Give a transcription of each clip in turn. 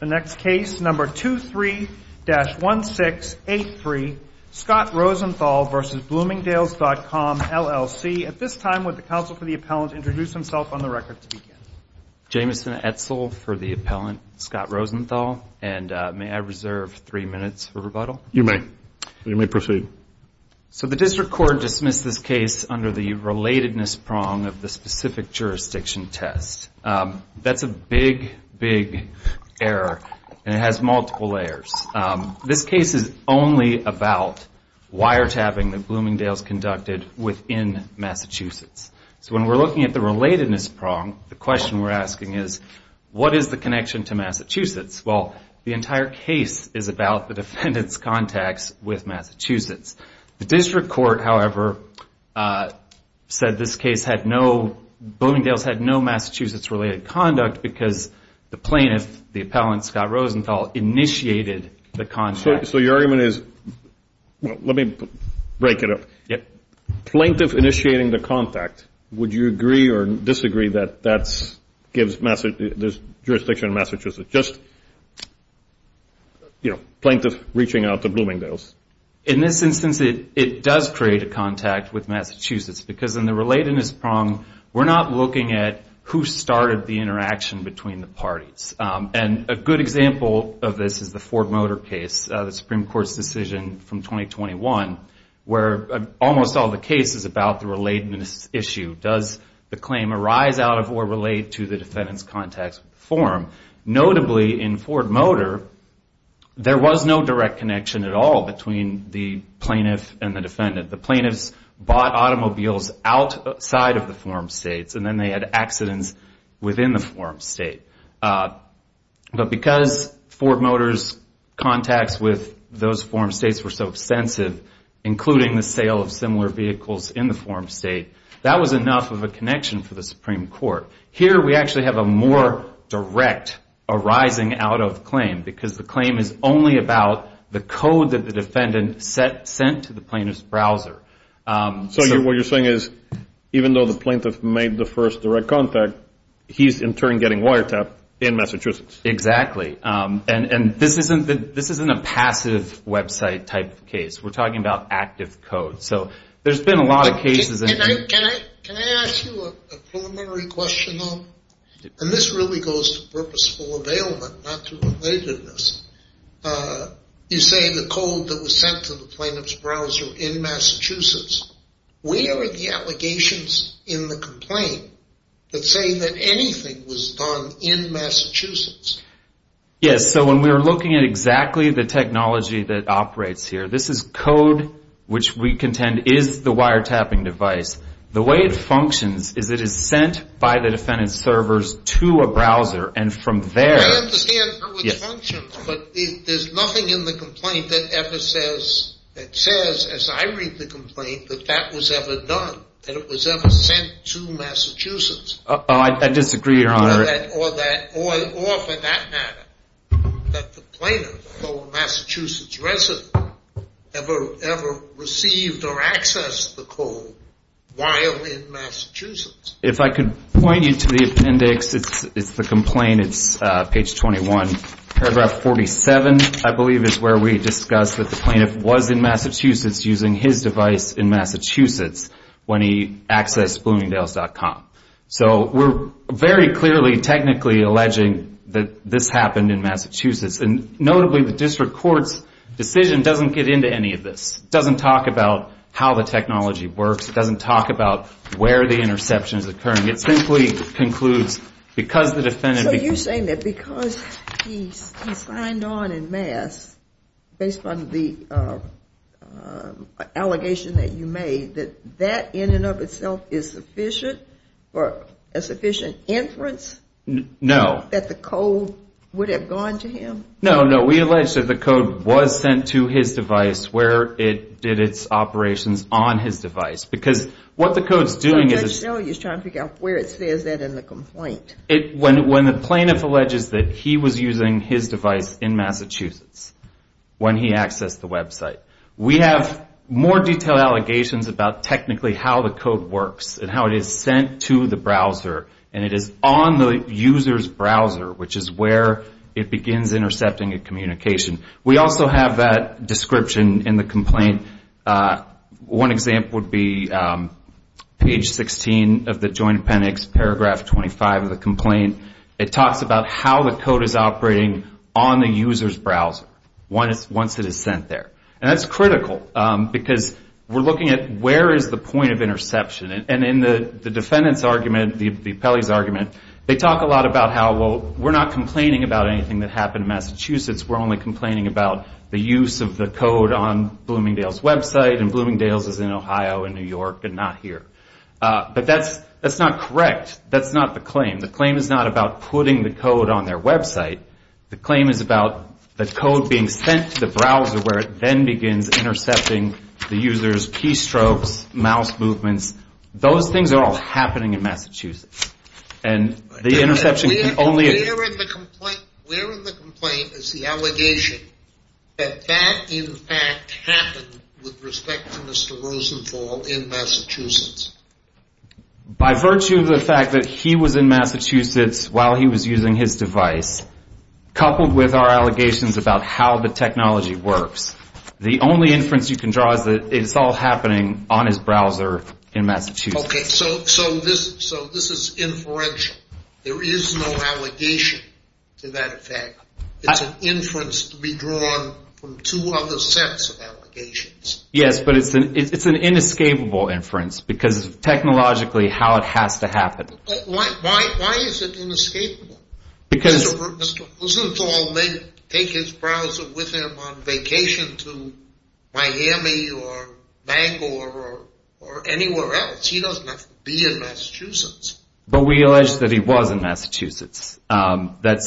The next case, number 23-1683, Scott Rosenthal v. Bloomingdales.com, LLC At this time, would the counsel for the appellant introduce himself on the record to begin? Jameson Etzel for the appellant, Scott Rosenthal, and may I reserve three minutes for rebuttal? You may. You may proceed. So the district court dismissed this case under the relatedness prong of the specific jurisdiction test. That's a big, big error, and it has multiple layers. This case is only about wiretapping that Bloomingdales conducted within Massachusetts. So when we're looking at the relatedness prong, the question we're asking is, what is the connection to Massachusetts? Well, the entire case is about the defendant's contacts with Massachusetts. The district court, however, said this case had no, Bloomingdales had no Massachusetts-related conduct because the plaintiff, the appellant, Scott Rosenthal, initiated the contact. So your argument is, well, let me break it up. Yep. Plaintiff initiating the contact, would you agree or disagree that that gives this jurisdiction in Massachusetts? In this instance, it does create a contact with Massachusetts because in the relatedness prong, we're not looking at who started the interaction between the parties. And a good example of this is the Ford Motor case, the Supreme Court's decision from 2021, where almost all the case is about the relatedness issue. Does the claim arise out of or relate to the defendant's contacts with the forum? Notably, in Ford Motor, there was no direct connection at all between the plaintiff and the defendant. The plaintiffs bought automobiles outside of the forum states, and then they had accidents within the forum state. But because Ford Motor's contacts with those forum states were so extensive, including the sale of similar vehicles in the forum state, that was enough of a connection for the Supreme Court. Here, we actually have a more direct arising out of claim, because the claim is only about the code that the defendant sent to the plaintiff's browser. So what you're saying is, even though the plaintiff made the first direct contact, he's in turn getting wiretapped in Massachusetts. Exactly. And this isn't a passive website type of case. We're talking about active code. There's been a lot of cases... Can I ask you a preliminary question, though? And this really goes to purposeful availment, not to relatedness. You say the code that was sent to the plaintiff's browser in Massachusetts. Where are the allegations in the complaint that say that anything was done in Massachusetts? Yes, so when we're looking at exactly the technology that operates here, this is code which we contend is the wiretapping device. The way it functions is it is sent by the defendant's servers to a browser, and from there... I understand how it functions, but there's nothing in the complaint that ever says, that says, as I read the complaint, that that was ever done, that it was ever sent to Massachusetts. Oh, I disagree, Your Honor. Or for that matter, that the plaintiff, a Massachusetts resident, ever received or accessed the code while in Massachusetts. If I could point you to the appendix, it's the complaint, it's page 21, paragraph 47, I believe is where we discuss that the plaintiff was in Massachusetts using his device in Massachusetts when he accessed Bloomingdales.com. So we're very clearly technically alleging that this happened in Massachusetts. And notably, the district court's decision doesn't get into any of this. It doesn't talk about how the technology works. It doesn't talk about where the interception is occurring. It simply concludes, because the defendant... So you're saying that because he signed on in mass, based on the allegation that you made, that that in and of itself is sufficient, or a sufficient inference? No. That the code would have gone to him? No, no. We allege that the code was sent to his device where it did its operations on his device. Because what the code's doing is... So you're just trying to figure out where it says that in the complaint. When the plaintiff alleges that he was using his device in Massachusetts when he accessed the website. We have more detailed allegations about technically how the code works, and how it is sent to the browser. And it is on the user's browser, which is where it begins intercepting a communication. We also have that description in the complaint. One example would be page 16 of the Joint Appendix, paragraph 25 of the complaint. It talks about how the code is operating on the user's browser once it is sent there. And that's critical, because we're looking at where is the point of interception. And in the defendant's argument, the appellee's argument, they talk a lot about how, well, we're not complaining about anything that happened in Massachusetts. We're only complaining about the use of the code on Bloomingdale's website. And Bloomingdale's is in Ohio and New York and not here. But that's not correct. That's not the claim. The claim is not about putting the code on their website. The claim is about the code being sent to the browser, where it then begins intercepting the user's keystrokes, mouse movements. Those things are all happening in Massachusetts. And the interception can only... Where in the complaint is the allegation that that, in fact, happened with respect to Mr. Rosenfall in Massachusetts? By virtue of the fact that he was in Massachusetts while he was using his device, coupled with our allegations about how the technology works, the only inference you can draw is that it's all happening on his browser in Massachusetts. Okay, so this is inferential. There is no allegation to that effect. It's an inference to be drawn from two other sets of allegations. Yes, but it's an inescapable inference, because technologically, how it has to happen. But why is it inescapable? Because Mr. Rosenfall may take his browser with him on vacation to Miami or Bangor or anywhere else. He doesn't have to be in Massachusetts. But we allege that he was in Massachusetts. At the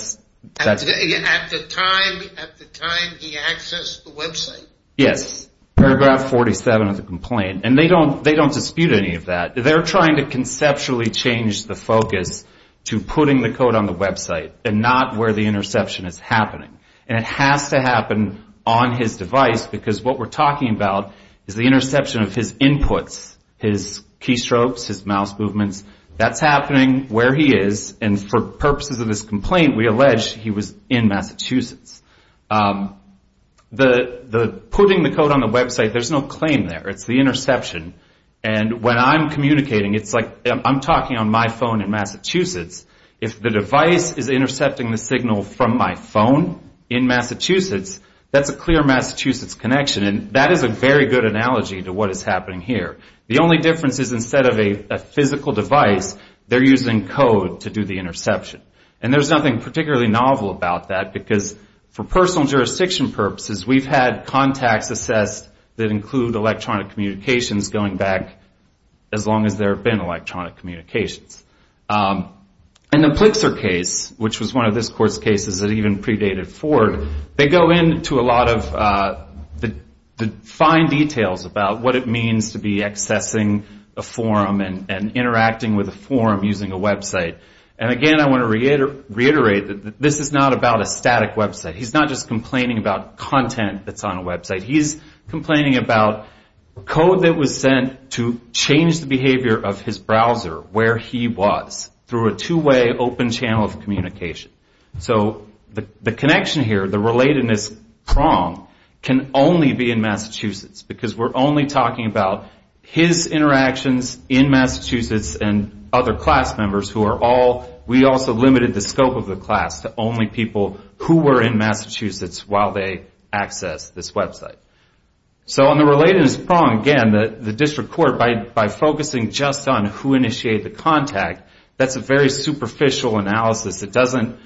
time he accessed the website? Yes, paragraph 47 of the complaint. And they don't dispute any of that. They're trying to conceptually change the focus to putting the code on the website and not where the interception is happening. And it has to happen on his device, because what we're talking about is the interception of his inputs, his keystrokes, his mouse movements. That's happening where he is. And for purposes of this complaint, we allege he was in Massachusetts. Putting the code on the website, there's no claim there. It's the interception. And when I'm communicating, it's like I'm talking on my phone in Massachusetts. If the device is intercepting the signal from my phone in Massachusetts, that's a clear Massachusetts connection. And that is a very good analogy to what is happening here. The only difference is instead of a physical device, they're using code to do the interception. And there's nothing particularly novel about that, because for personal jurisdiction purposes, we've had contacts assessed that include electronic communications going back as long as there have been electronic communications. In the Plexer case, which was one of this court's cases that even predated Ford, they go into a lot of the fine details about what it means to be accessing a forum and interacting with a forum using a website. And again, I want to reiterate that this is not about a static website. He's not just complaining about content that's on a website. He's complaining about code that was sent to change the behavior of his browser where he was through a two-way open channel of communication. So the connection here, the relatedness prong, can only be in Massachusetts, because we're only talking about his interactions in Massachusetts and other class members who are all, we also limited the scope of the class to only people who were in Massachusetts while they accessed this website. So on the relatedness prong, again, the district court, by focusing just on who initiated the contact, that's a very superficial analysis. It doesn't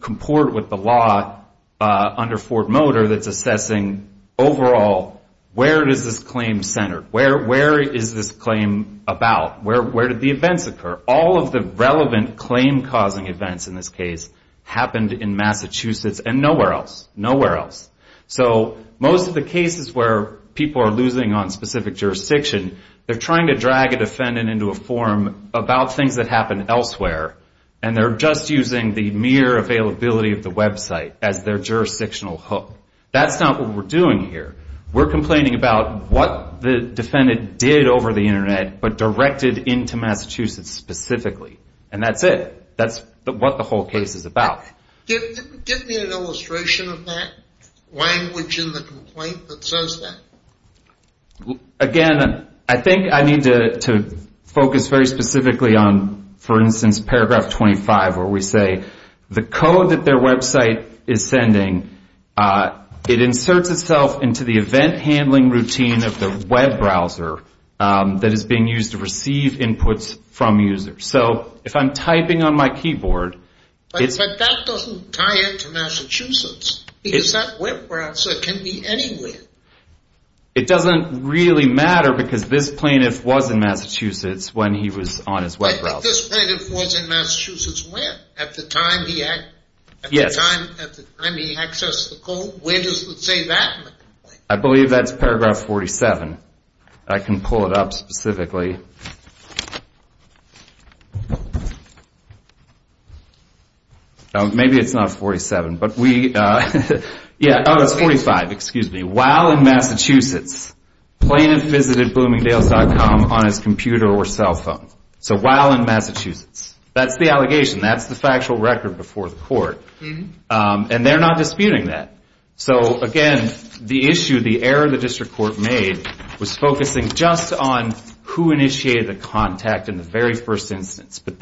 comport with the law under Ford Motor that's assessing overall, where is this claim centered? Where is this claim about? Where did the events occur? All of the relevant claim-causing events in this case happened in Massachusetts and nowhere else, nowhere else. So most of the cases where people are losing on specific jurisdiction, they're trying to drag a defendant into a forum about things that happened elsewhere. And they're just using the mere availability of the website as their jurisdictional hook. That's not what we're doing here. We're complaining about what the defendant did over the internet, but directed into Massachusetts specifically. And that's it. That's what the whole case is about. Give me an illustration of that language in the complaint that says that. Again, I think I need to focus very specifically on, for instance, paragraph 25, where we say, the code that their website is sending, it inserts itself into the event handling routine of the web browser that is being used to receive inputs from users. So if I'm typing on my keyboard, it's- But that doesn't tie into Massachusetts, because that web browser can be anywhere. It doesn't really matter, because this plaintiff was in Massachusetts when he was on his web browser. But this plaintiff was in Massachusetts when? At the time he accessed the code? Where does it say that in the complaint? I believe that's paragraph 47. I can pull it up specifically. Maybe it's not 47, but we- Yeah, oh, it's 45. Excuse me. While in Massachusetts, plaintiff visited bloomingdales.com on his computer or cell phone. So while in Massachusetts. That's the allegation. That's the factual record before the court. And they're not disputing that. So again, the issue, the error the district court made was focusing just on who initiated the contact in the very first instance. But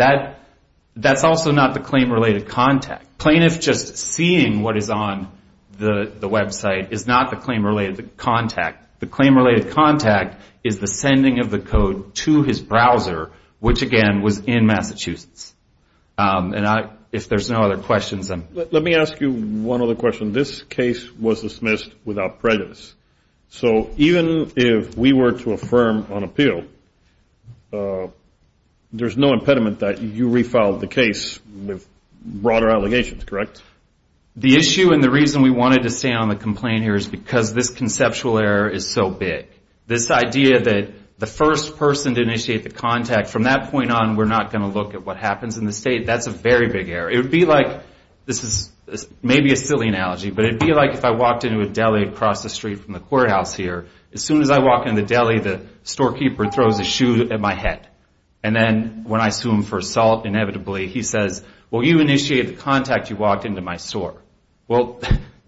that's also not the claim-related contact. Plaintiff just seeing what is on the website is not the claim-related contact. The claim-related contact is the sending of the code to his browser, which again, was in Massachusetts. And if there's no other questions, I'm- Let me ask you one other question. This case was dismissed without prejudice. So even if we were to affirm on appeal, there's no impediment that you refiled the case with broader allegations, correct? The issue and the reason we wanted to stay on the complaint here is because this conceptual error is so big. This idea that the first person to initiate the contact, from that point on, we're not going to look at what happens in the state, that's a very big error. It would be like, this is maybe a silly analogy, but it'd be like if I walked into a deli across the street from the courthouse here. As soon as I walk into the deli, the storekeeper throws a shoe at my head. And then when I sue him for assault, inevitably, he says, well, you initiated the contact. You walked into my store. Well,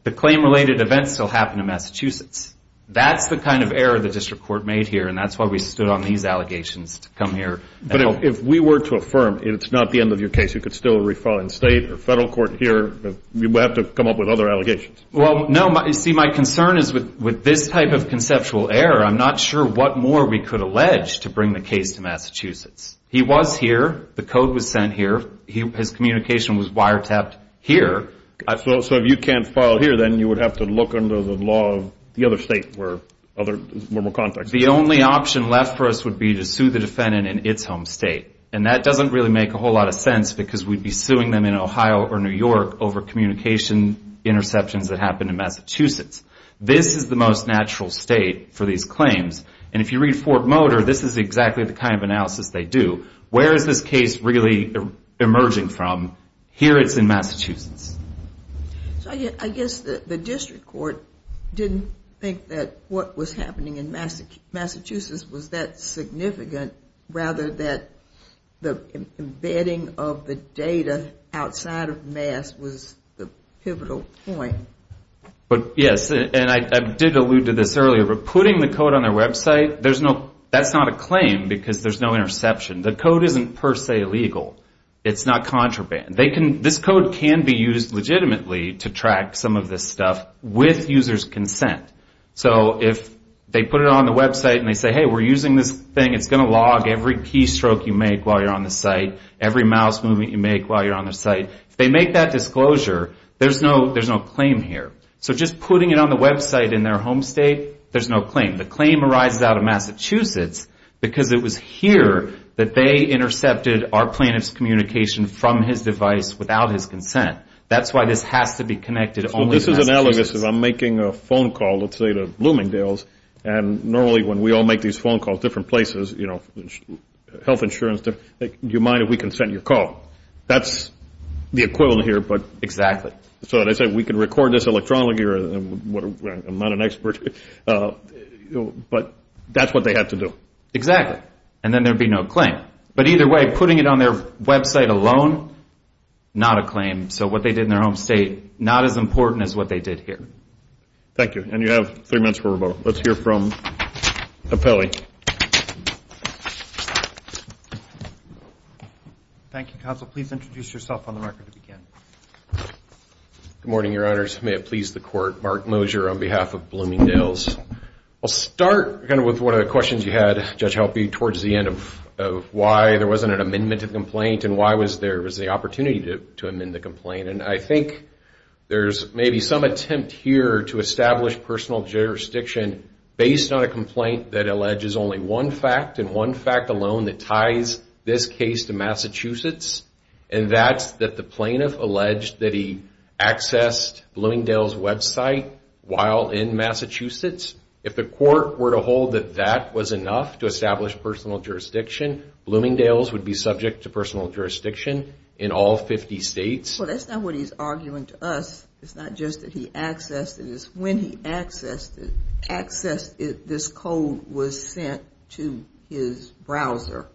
the claim-related events still happen in Massachusetts. That's the kind of error the district court made here. And that's why we stood on these allegations to come here. But if we were to affirm, it's not the end of your case, you could still refile in state or federal court here. You would have to come up with other allegations. Well, no. See, my concern is with this type of conceptual error, I'm not sure what more we could allege to bring the case to Massachusetts. He was here. The code was sent here. His communication was wiretapped here. So if you can't file here, then you would have to look under the law of the other state where other normal contacts are. The only option left for us would be to sue the defendant in its home state. And that doesn't really make a whole lot of sense because we'd be suing them in Ohio or New York over communication interceptions that happened in Massachusetts. This is the most natural state for these claims. And if you read Fort Motor, this is exactly the kind of analysis they do. Where is this case really emerging from? Here it's in Massachusetts. I guess the district court didn't think that what was happening in Massachusetts was that significant, rather that the embedding of the data outside of Mass was the pivotal point. But yes, and I did allude to this earlier, but putting the code on their website, that's not a claim because there's no interception. The code isn't per se legal. It's not contraband. This code can be used legitimately to track some of this stuff with users' consent. So if they put it on the website and they say, hey, we're using this thing, it's going to log every keystroke you make while you're on the site, every mouse movement you make while you're on the site, if they make that disclosure, there's no claim here. So just putting it on the website in their home state, there's no claim. The claim arises out of Massachusetts because it was here that they intercepted our plaintiff's communication from his device without his consent. That's why this has to be connected only to Massachusetts. So this is analogous. If I'm making a phone call, let's say, to Bloomingdale's, and normally when we all make these phone calls, different places, health insurance, do you mind if we consent your call? That's the equivalent here. Exactly. So they say, we can record this electronically. I'm not an expert. But that's what they had to do. Exactly. And then there'd be no claim. But either way, putting it on their website alone, not a claim. So what they did in their home state, not as important as what they did here. Thank you. And you have three minutes for rebuttal. Let's hear from Apelli. Thank you, counsel. Please introduce yourself on the marker to begin. Good morning, your honors. May it please the court. Mark Mosier on behalf of Bloomingdale's. I'll start with one of the questions you had, Judge Helpe, towards the end of why there wasn't an amendment to the complaint, and why there was the opportunity to amend the complaint. And I think there's maybe some attempt here to establish personal jurisdiction based on a complaint that alleges only one fact, and one fact alone that ties this case to Massachusetts. And that's that the plaintiff alleged that he accessed Bloomingdale's website while in Massachusetts. If the court were to hold that that was enough to establish personal jurisdiction, Bloomingdale's would be subject to personal jurisdiction in all 50 states. Well, that's not what he's arguing to us. It's not just that he accessed it. It's when he accessed it, this code was sent to his browser,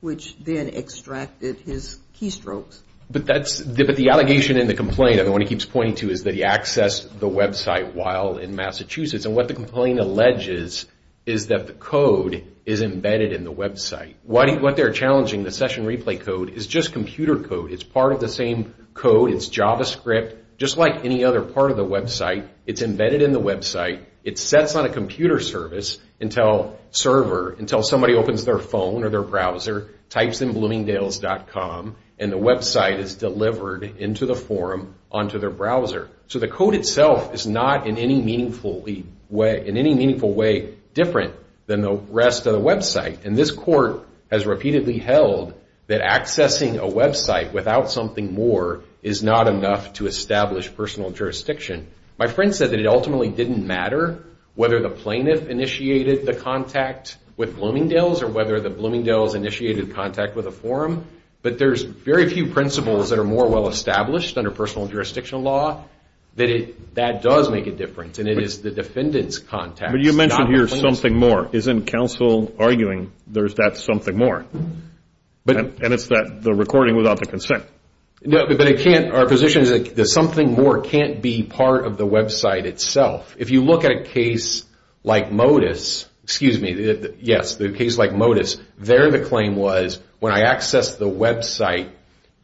which then extracted his keystrokes. But the allegation in the complaint, and the one he keeps pointing to, is that he accessed the website while in Massachusetts. And what the complaint alleges is that the code is embedded in the website. What they're challenging, the session replay code, is just computer code. It's part of the same code. It's JavaScript. Just like any other part of the website, it's embedded in the website. It sets on a computer service until somebody opens their phone or their browser, types in Bloomingdale's.com, and the website is delivered into the forum onto their browser. So the code itself is not in any meaningful way different than the rest of the website. And this court has repeatedly held that accessing a website without something more is not enough to establish personal jurisdiction. My friend said that it ultimately didn't matter whether the plaintiff initiated the contact with Bloomingdale's or whether the Bloomingdale's initiated contact with a forum. But there's very few principles that are more well-established under personal jurisdiction law that that does make a difference. And it is the defendant's contact. But you mentioned here something more. Isn't counsel arguing there's that something more? And it's the recording without the consent. Our position is that something more can't be part of the website itself. If you look at a case like Motus, excuse me, yes, the case like Motus, there the claim was when I accessed the website,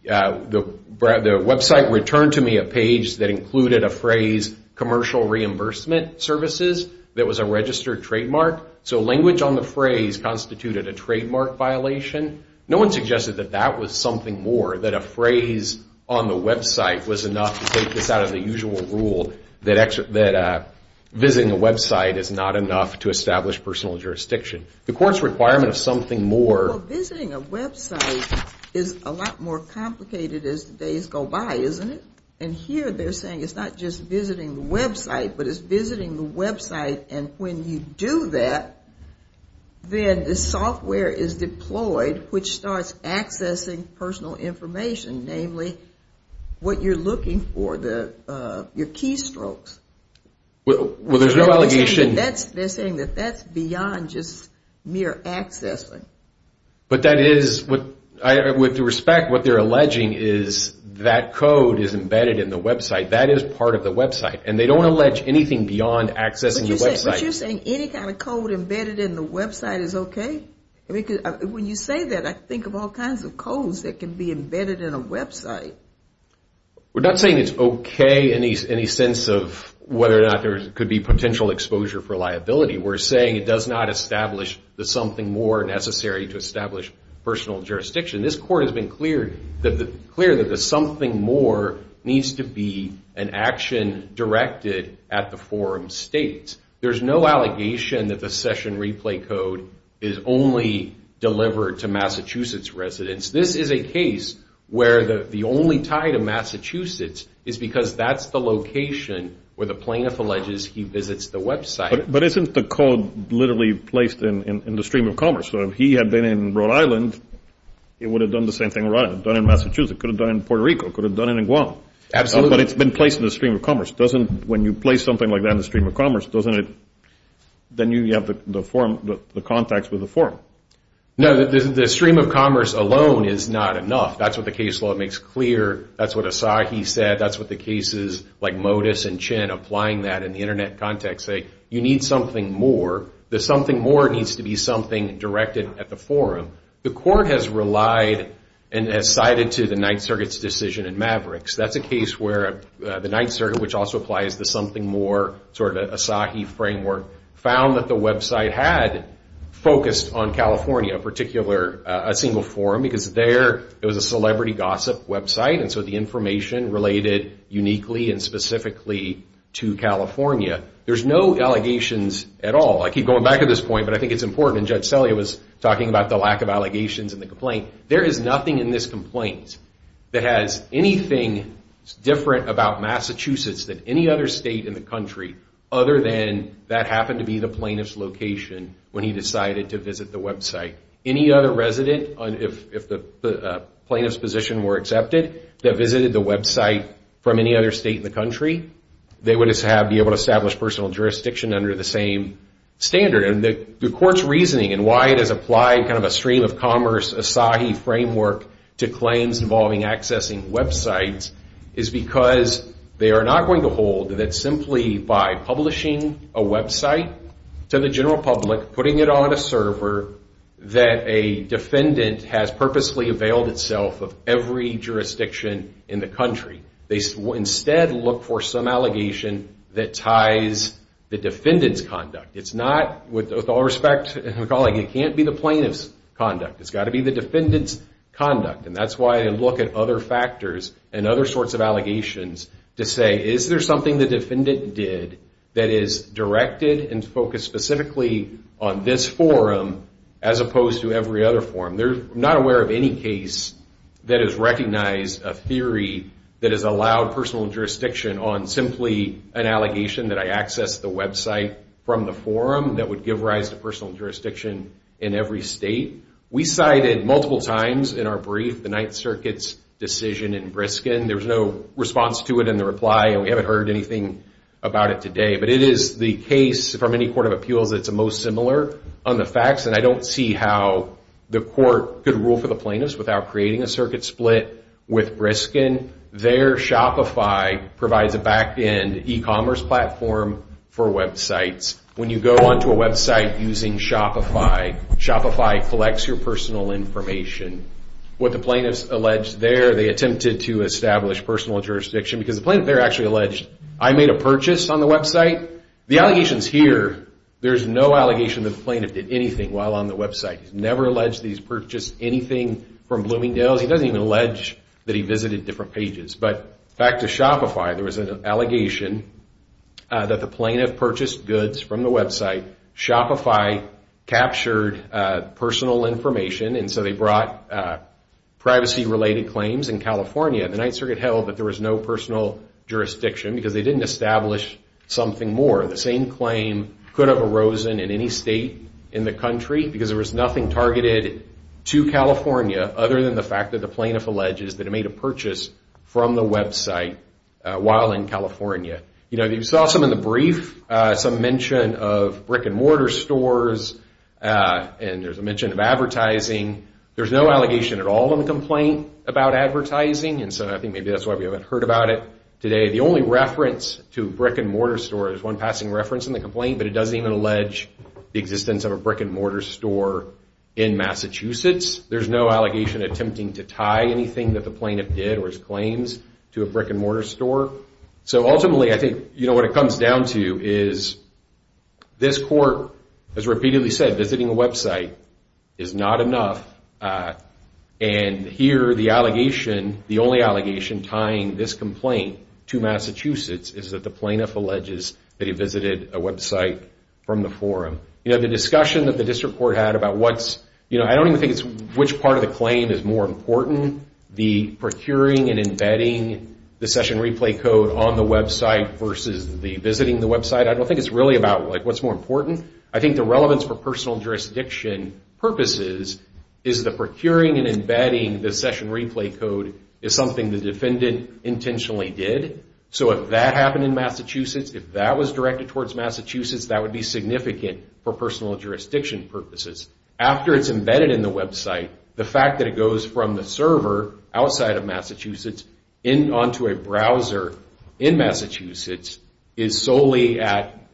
the website returned to me a page that included a phrase, commercial reimbursement services, that was a registered trademark. So language on the phrase constituted a trademark violation. No one suggested that that was something more, that a phrase on the website was enough to take this out of the usual rule that visiting a website is not enough to establish personal jurisdiction. The court's requirement of something more. Well, visiting a website is a lot more complicated as the days go by, isn't it? And here they're saying it's not just visiting the website, but it's visiting the website. And when you do that, then the software is deployed, which starts accessing personal information, namely what you're looking for, your keystrokes. Well, there's no allegation. They're saying that that's beyond just mere accessing. But that is, with respect, what they're alleging is that code is embedded in the website. That is part of the website. And they don't allege anything beyond accessing the website. But you're saying any kind of code embedded in the website is OK? When you say that, I think of all kinds of codes that can be embedded in a website. We're not saying it's OK in any sense of whether or not there could be potential exposure for liability. We're saying it does not establish the something more necessary to establish personal jurisdiction. This court has been clear that the something more needs to be an action directed at the forum states. There's no allegation that the session replay code is only delivered to Massachusetts residents. This is a case where the only tie to Massachusetts is because that's the location where the plaintiff alleges he visits the website. But isn't the code literally placed in the stream of commerce? So if he had been in Rhode Island, it would have done the same thing in Rhode Island. It would have done it in Massachusetts. It could have done it in Puerto Rico. It could have done it in Guam. Absolutely. Doesn't, when you place something like that in the stream of commerce, doesn't it, then you have the context with the forum. No, the stream of commerce alone is not enough. That's what the case law makes clear. That's what Asahi said. That's what the cases like Modis and Chin applying that in the internet context say. You need something more. The something more needs to be something directed at the forum. The court has relied and has sided to the Ninth Circuit's decision in Mavericks. That's a case where the Ninth Circuit, which also applies to something more, sort of an Asahi framework, found that the website had focused on California, a particular, a single forum. Because there, it was a celebrity gossip website. And so the information related uniquely and specifically to California. There's no allegations at all. I keep going back to this point, but I think it's important. And Judge Sellea was talking about the lack of allegations in the complaint. There is nothing in this complaint that has anything different about Massachusetts than any other state in the country, other than that happened to be the plaintiff's location when he decided to visit the website. Any other resident, if the plaintiff's position were accepted, that visited the website from any other state in the country, they would be able to establish personal jurisdiction under the same standard. And the court's reasoning and why it has applied kind of a stream of commerce Asahi framework to claims involving accessing websites is because they are not going to hold that simply by publishing a website to the general public, putting it on a server, that a defendant has purposely availed itself of every jurisdiction in the country. They instead look for some allegation that ties the defendant's conduct. It's not, with all respect, my colleague, it can't be the plaintiff's conduct. It's got to be the defendant's conduct. And that's why I look at other factors and other sorts of allegations to say, is there something the defendant did that is directed and focused specifically on this forum as opposed to every other forum? They're not aware of any case that has recognized a theory that has allowed personal jurisdiction on simply an allegation that I accessed the website from the forum that would give rise to personal jurisdiction in every state. We cited multiple times in our brief the Ninth Circuit's decision in Briskin. There was no response to it in the reply, and we haven't heard anything about it today. But it is the case from any court of appeals that's most similar on the facts. And I don't see how the court could rule for the plaintiffs without creating a circuit split with Briskin. Their Shopify provides a back end e-commerce platform for websites. When you go onto a website using Shopify, Shopify collects your personal information. What the plaintiffs alleged there, they attempted to establish personal jurisdiction because the plaintiff there actually alleged, I made a purchase on the website. The allegations here, there's no allegation that the plaintiff did anything while on the website. He's never alleged that he's purchased anything from Bloomingdale's. He doesn't even allege that he visited different pages. But back to Shopify, there was an allegation that the plaintiff purchased goods from the website. Shopify captured personal information, and so they brought privacy-related claims in California. The Ninth Circuit held that there was no personal jurisdiction because they didn't establish something more. The same claim could have arisen in any state in the country because there was nothing targeted to California other than the fact that the plaintiff alleges that he made a purchase from the website while in California. You know, you saw some in the brief, some mention of brick-and-mortar stores, and there's a mention of advertising. There's no allegation at all in the complaint about advertising, and so I think maybe that's why we haven't heard about it today. The only reference to a brick-and-mortar store is one passing reference in the complaint, but it doesn't even allege the existence of a brick-and-mortar store in Massachusetts. There's no allegation attempting to tie anything that the plaintiff did or his claims to a brick-and-mortar store. So ultimately, I think what it comes down to is this court has repeatedly said visiting a website is not enough, and here the only allegation tying this complaint to Massachusetts is that the plaintiff alleges that he visited a website from the forum. You know, the discussion that the district court had about what's, you know, I don't even think it's which part of the claim is more important, the procuring and embedding the session replay code on the website versus the visiting the website, I don't think it's really about what's more important. I think the relevance for personal jurisdiction purposes is the procuring and embedding the session replay code is something the defendant intentionally did. So if that happened in Massachusetts, if that was directed towards Massachusetts, that would be significant for personal jurisdiction purposes. After it's embedded in the website, the fact that it goes from the server outside of Massachusetts onto a browser in Massachusetts is solely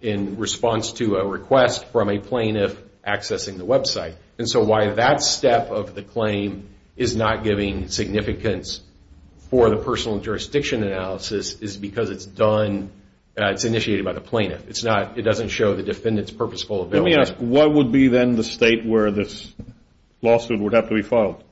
in response to a request from a plaintiff accessing the website. And so why that step of the claim is not giving significance for the personal jurisdiction analysis is because it's done, it's initiated by the plaintiff. It's not, it doesn't show the defendant's purposeful ability. Let me ask, what would be then the state where this lawsuit would have to be filed?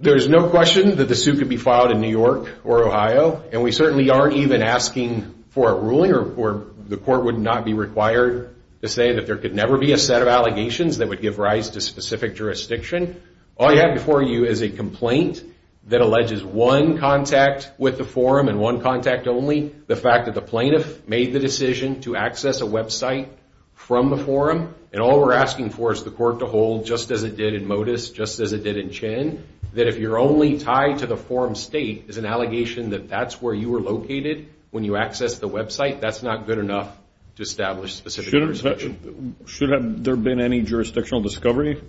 There's no question that the suit could be filed in New York or Ohio. And we certainly aren't even asking for a ruling or the court would not be required to say that there could never be a set of allegations that would give rise to specific jurisdiction. All you have before you is a complaint that alleges one contact with the forum and one contact only, the fact that the plaintiff made the decision to access a website from the forum. And all we're asking for is the court to hold just as it did in Motus, just as it did in Chin, that if you're only tied to the forum state as an allegation that that's where you were located when you accessed the website, that's not good enough to establish specific jurisdiction. Should there have been any jurisdictional discovery?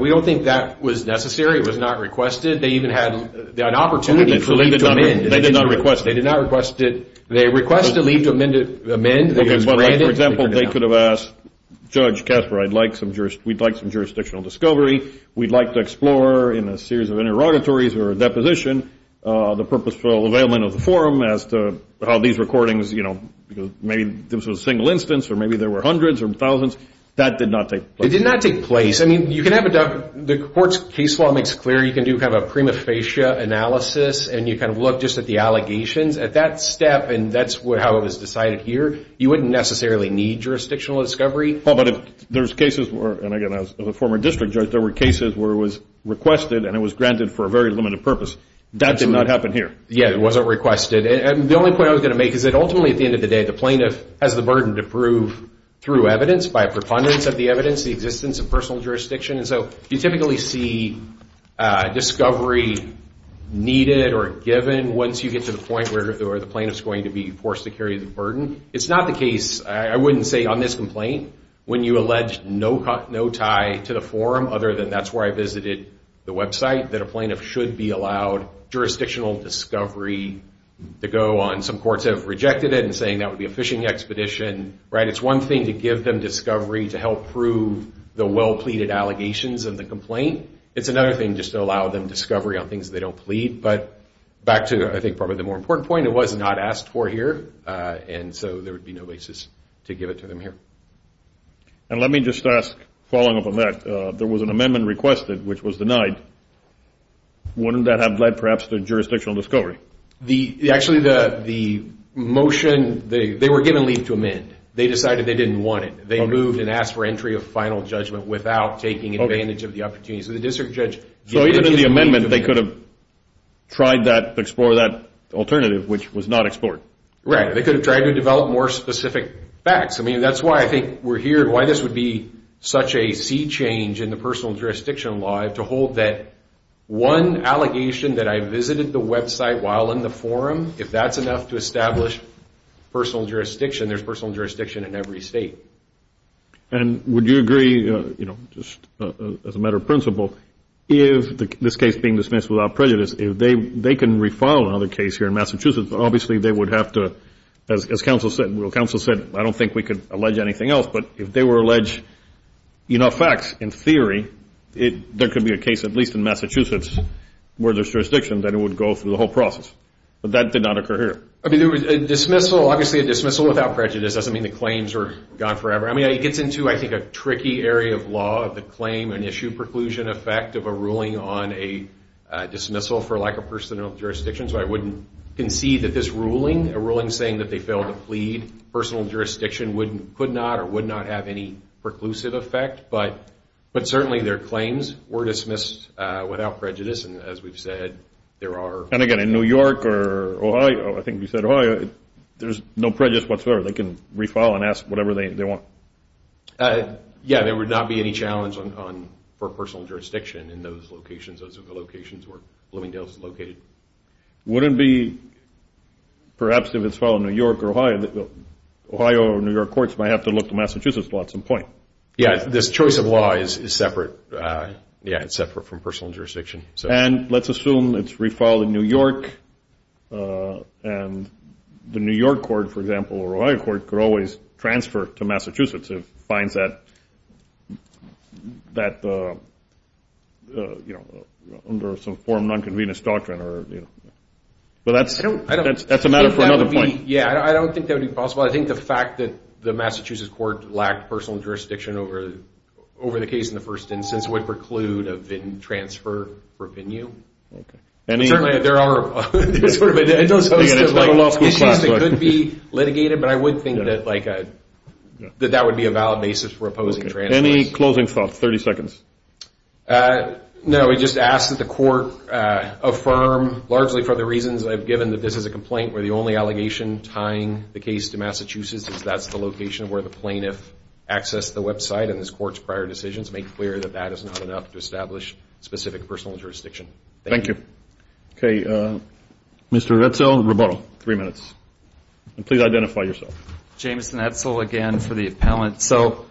We don't think that was necessary. It was not requested. They even had an opportunity for leave to amend. They did not request it. They did not request it. They requested leave to amend, it was granted. Okay, but like for example, they could have asked, Judge Kasper, we'd like some jurisdictional discovery. We'd like to explore in a series of interrogatories or a deposition, the purposeful availment of the forum as to how these recordings, maybe this was a single instance or maybe there were hundreds or thousands. That did not take place. It did not take place. I mean, the court's case law makes clear you can do kind of a prima facie analysis and you kind of look just at the allegations. At that step, and that's how it was decided here, you wouldn't necessarily need jurisdictional discovery. Paul, but if there's cases where, and again, as a former district judge, there were cases where it was requested and it was granted for a very limited purpose. That did not happen here. Yeah, it wasn't requested. And the only point I was gonna make is that ultimately at the end of the day, the plaintiff has the burden to prove through evidence, by preponderance of the evidence, the existence of personal jurisdiction. And so you typically see discovery needed or given once you get to the point where the plaintiff's going to be forced to carry the burden. It's not the case, I wouldn't say on this complaint, when you allege no tie to the forum, other than that's where I visited the website, that a plaintiff should be allowed jurisdictional discovery to go on. Some courts have rejected it and saying that would be a fishing expedition, right? It's one thing to give them discovery to help prove the well-pleaded allegations of the complaint. It's another thing just to allow them discovery on things they don't plead. But back to, I think, probably the more important point, the plaintiff was not asked for here, and so there would be no basis to give it to them here. And let me just ask, following up on that, there was an amendment requested, which was denied. Wouldn't that have led, perhaps, to jurisdictional discovery? Actually, the motion, they were given leave to amend. They decided they didn't want it. They moved and asked for entry of final judgment without taking advantage of the opportunity. So the district judge- So even in the amendment, they could have tried that, explored that alternative, which was not explored. Right, they could have tried to develop more specific facts. I mean, that's why I think we're here, and why this would be such a sea change in the personal jurisdiction law, to hold that one allegation that I visited the website while in the forum, if that's enough to establish personal jurisdiction, there's personal jurisdiction in every state. And would you agree, just as a matter of principle, if this case being dismissed without prejudice, if they can refile another case here in Massachusetts, obviously they would have to, as counsel said, well, counsel said, I don't think we could allege anything else, but if they were allege enough facts, in theory, there could be a case, at least in Massachusetts, where there's jurisdiction, that it would go through the whole process. But that did not occur here. I mean, there was a dismissal, obviously a dismissal without prejudice doesn't mean the claims are gone forever. I mean, it gets into, I think, a tricky area of law, the claim and issue preclusion effect of a ruling on a dismissal for lack of personal jurisdiction. So I wouldn't concede that this ruling, a ruling saying that they failed to plead, personal jurisdiction could not or would not have any preclusive effect. But certainly their claims were dismissed without prejudice. And as we've said, there are- And again, in New York or Ohio, I think you said Ohio, there's no prejudice whatsoever. They can refile and ask whatever they want. Yeah, there would not be any challenge for personal jurisdiction in those locations, those locations where Bloomingdale is located. Wouldn't be, perhaps if it's filed in New York or Ohio, Ohio or New York courts might have to look to Massachusetts law at some point. Yeah, this choice of law is separate. Yeah, it's separate from personal jurisdiction. And let's assume it's refiled in New York and the New York court, for example, or Ohio court could always transfer to Massachusetts if it finds that under some form of non-convenience doctrine. But that's a matter for another point. Yeah, I don't think that would be possible. I think the fact that the Massachusetts court lacked personal jurisdiction over the case in the first instance would preclude a written transfer for a venue. And certainly there are issues that could be litigated, but I would think that that would be a valid basis for opposing transfers. Any closing thoughts? 30 seconds. No, we just ask that the court affirm, largely for the reasons I've given, that this is a complaint where the only allegation tying the case to Massachusetts is that's the location where the plaintiff accessed the website in this court's prior decisions. Make clear that that is not enough to establish specific personal jurisdiction. Thank you. Okay, Mr. Retzel-Roberto, three minutes. And please identify yourself. James Retzel again for the appellant. So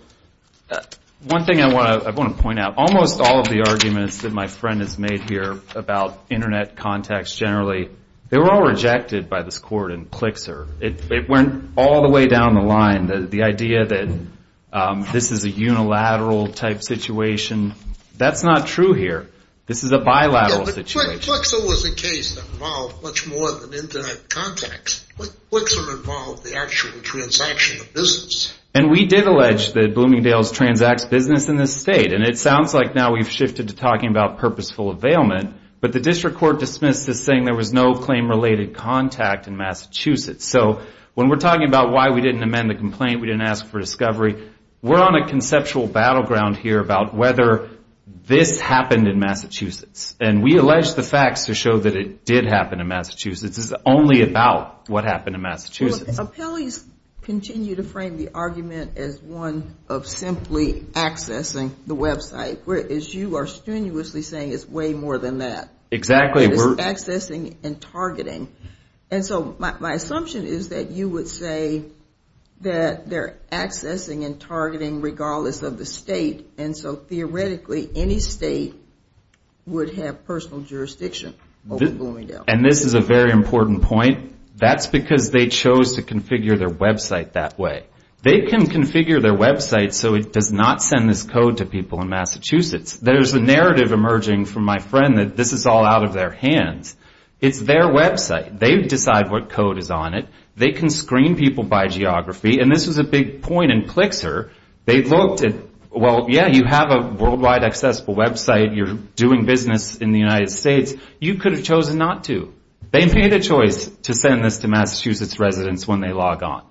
one thing I want to point out, almost all of the arguments that my friend has made here about internet contacts generally, they were all rejected by this court in Klixer. It went all the way down the line. The idea that this is a unilateral type situation, that's not true here. This is a bilateral situation. Yeah, but Klixer was a case that involved much more than internet contacts. Klixer involved the actual transaction of business. And we did allege that Bloomingdale's transacts business in this state. And it sounds like now we've shifted to talking about purposeful availment, but the district court dismissed this saying there was no claim-related contact in Massachusetts. So when we're talking about why we didn't amend the complaint, we didn't ask for discovery, we're on a conceptual battleground here about whether this happened in Massachusetts. And we allege the facts to show that it did happen in Massachusetts. This is only about what happened in Massachusetts. Appellees continue to frame the argument as one of simply accessing the website, whereas you are strenuously saying it's way more than that. Exactly. It's accessing and targeting. And so my assumption is that you would say that they're accessing and targeting regardless of the state. And so theoretically, any state would have personal jurisdiction. And this is a very important point. That's because they chose to configure their website that way. They can configure their website so it does not send this code to people in Massachusetts. There's a narrative emerging from my friend that this is all out of their hands. It's their website. They decide what code is on it. They can screen people by geography. And this was a big point in Clixer. They looked at, well, yeah, you have a worldwide accessible website. You're doing business in the United States. You could have chosen not to. They made a choice to send this to Massachusetts residents when they log on.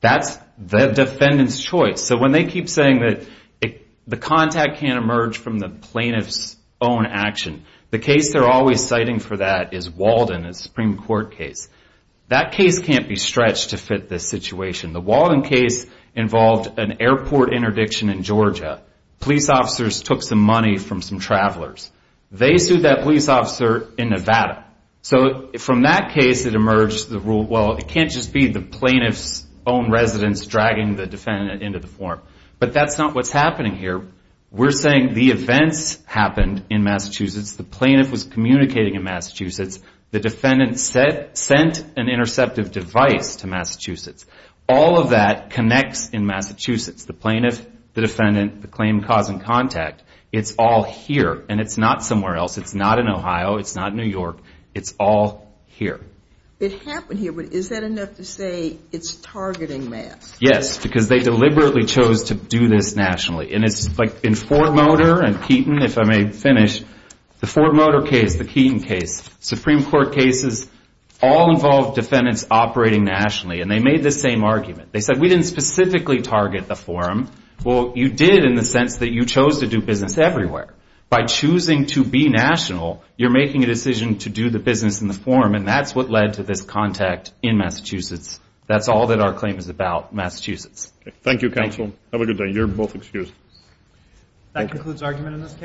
That's the defendant's choice. So when they keep saying that the contact can't emerge from the plaintiff's own action, the case they're always citing for that is Walden, a Supreme Court case. That case can't be stretched to fit this situation. The Walden case involved an airport interdiction in Georgia. Police officers took some money from some travelers. They sued that police officer in Nevada. So from that case, it emerged the rule, well, it can't just be the plaintiff's own residents dragging the defendant into the form. But that's not what's happening here. We're saying the events happened in Massachusetts. The plaintiff was communicating in Massachusetts. The defendant sent an interceptive device to Massachusetts. All of that connects in Massachusetts. The plaintiff, the defendant, the claimed cause and contact, it's all here. And it's not somewhere else. It's not in Ohio. It's not in New York. It's all here. It happened here, but is that enough to say it's targeting mass? Yes, because they deliberately chose to do this nationally. And it's like in Fort Motor and Keaton, if I may finish, the Fort Motor case, the Keaton case, Supreme Court cases, all involved defendants operating nationally. And they made the same argument. They said, we didn't specifically target the forum. Well, you did in the sense that you chose to do business everywhere. By choosing to be national, you're making a decision to do the business in the forum. And that's what led to this contact in Massachusetts. That's all that our claim is about, Massachusetts. Thank you, counsel. Have a good day. You're both excused. That concludes argument in this case.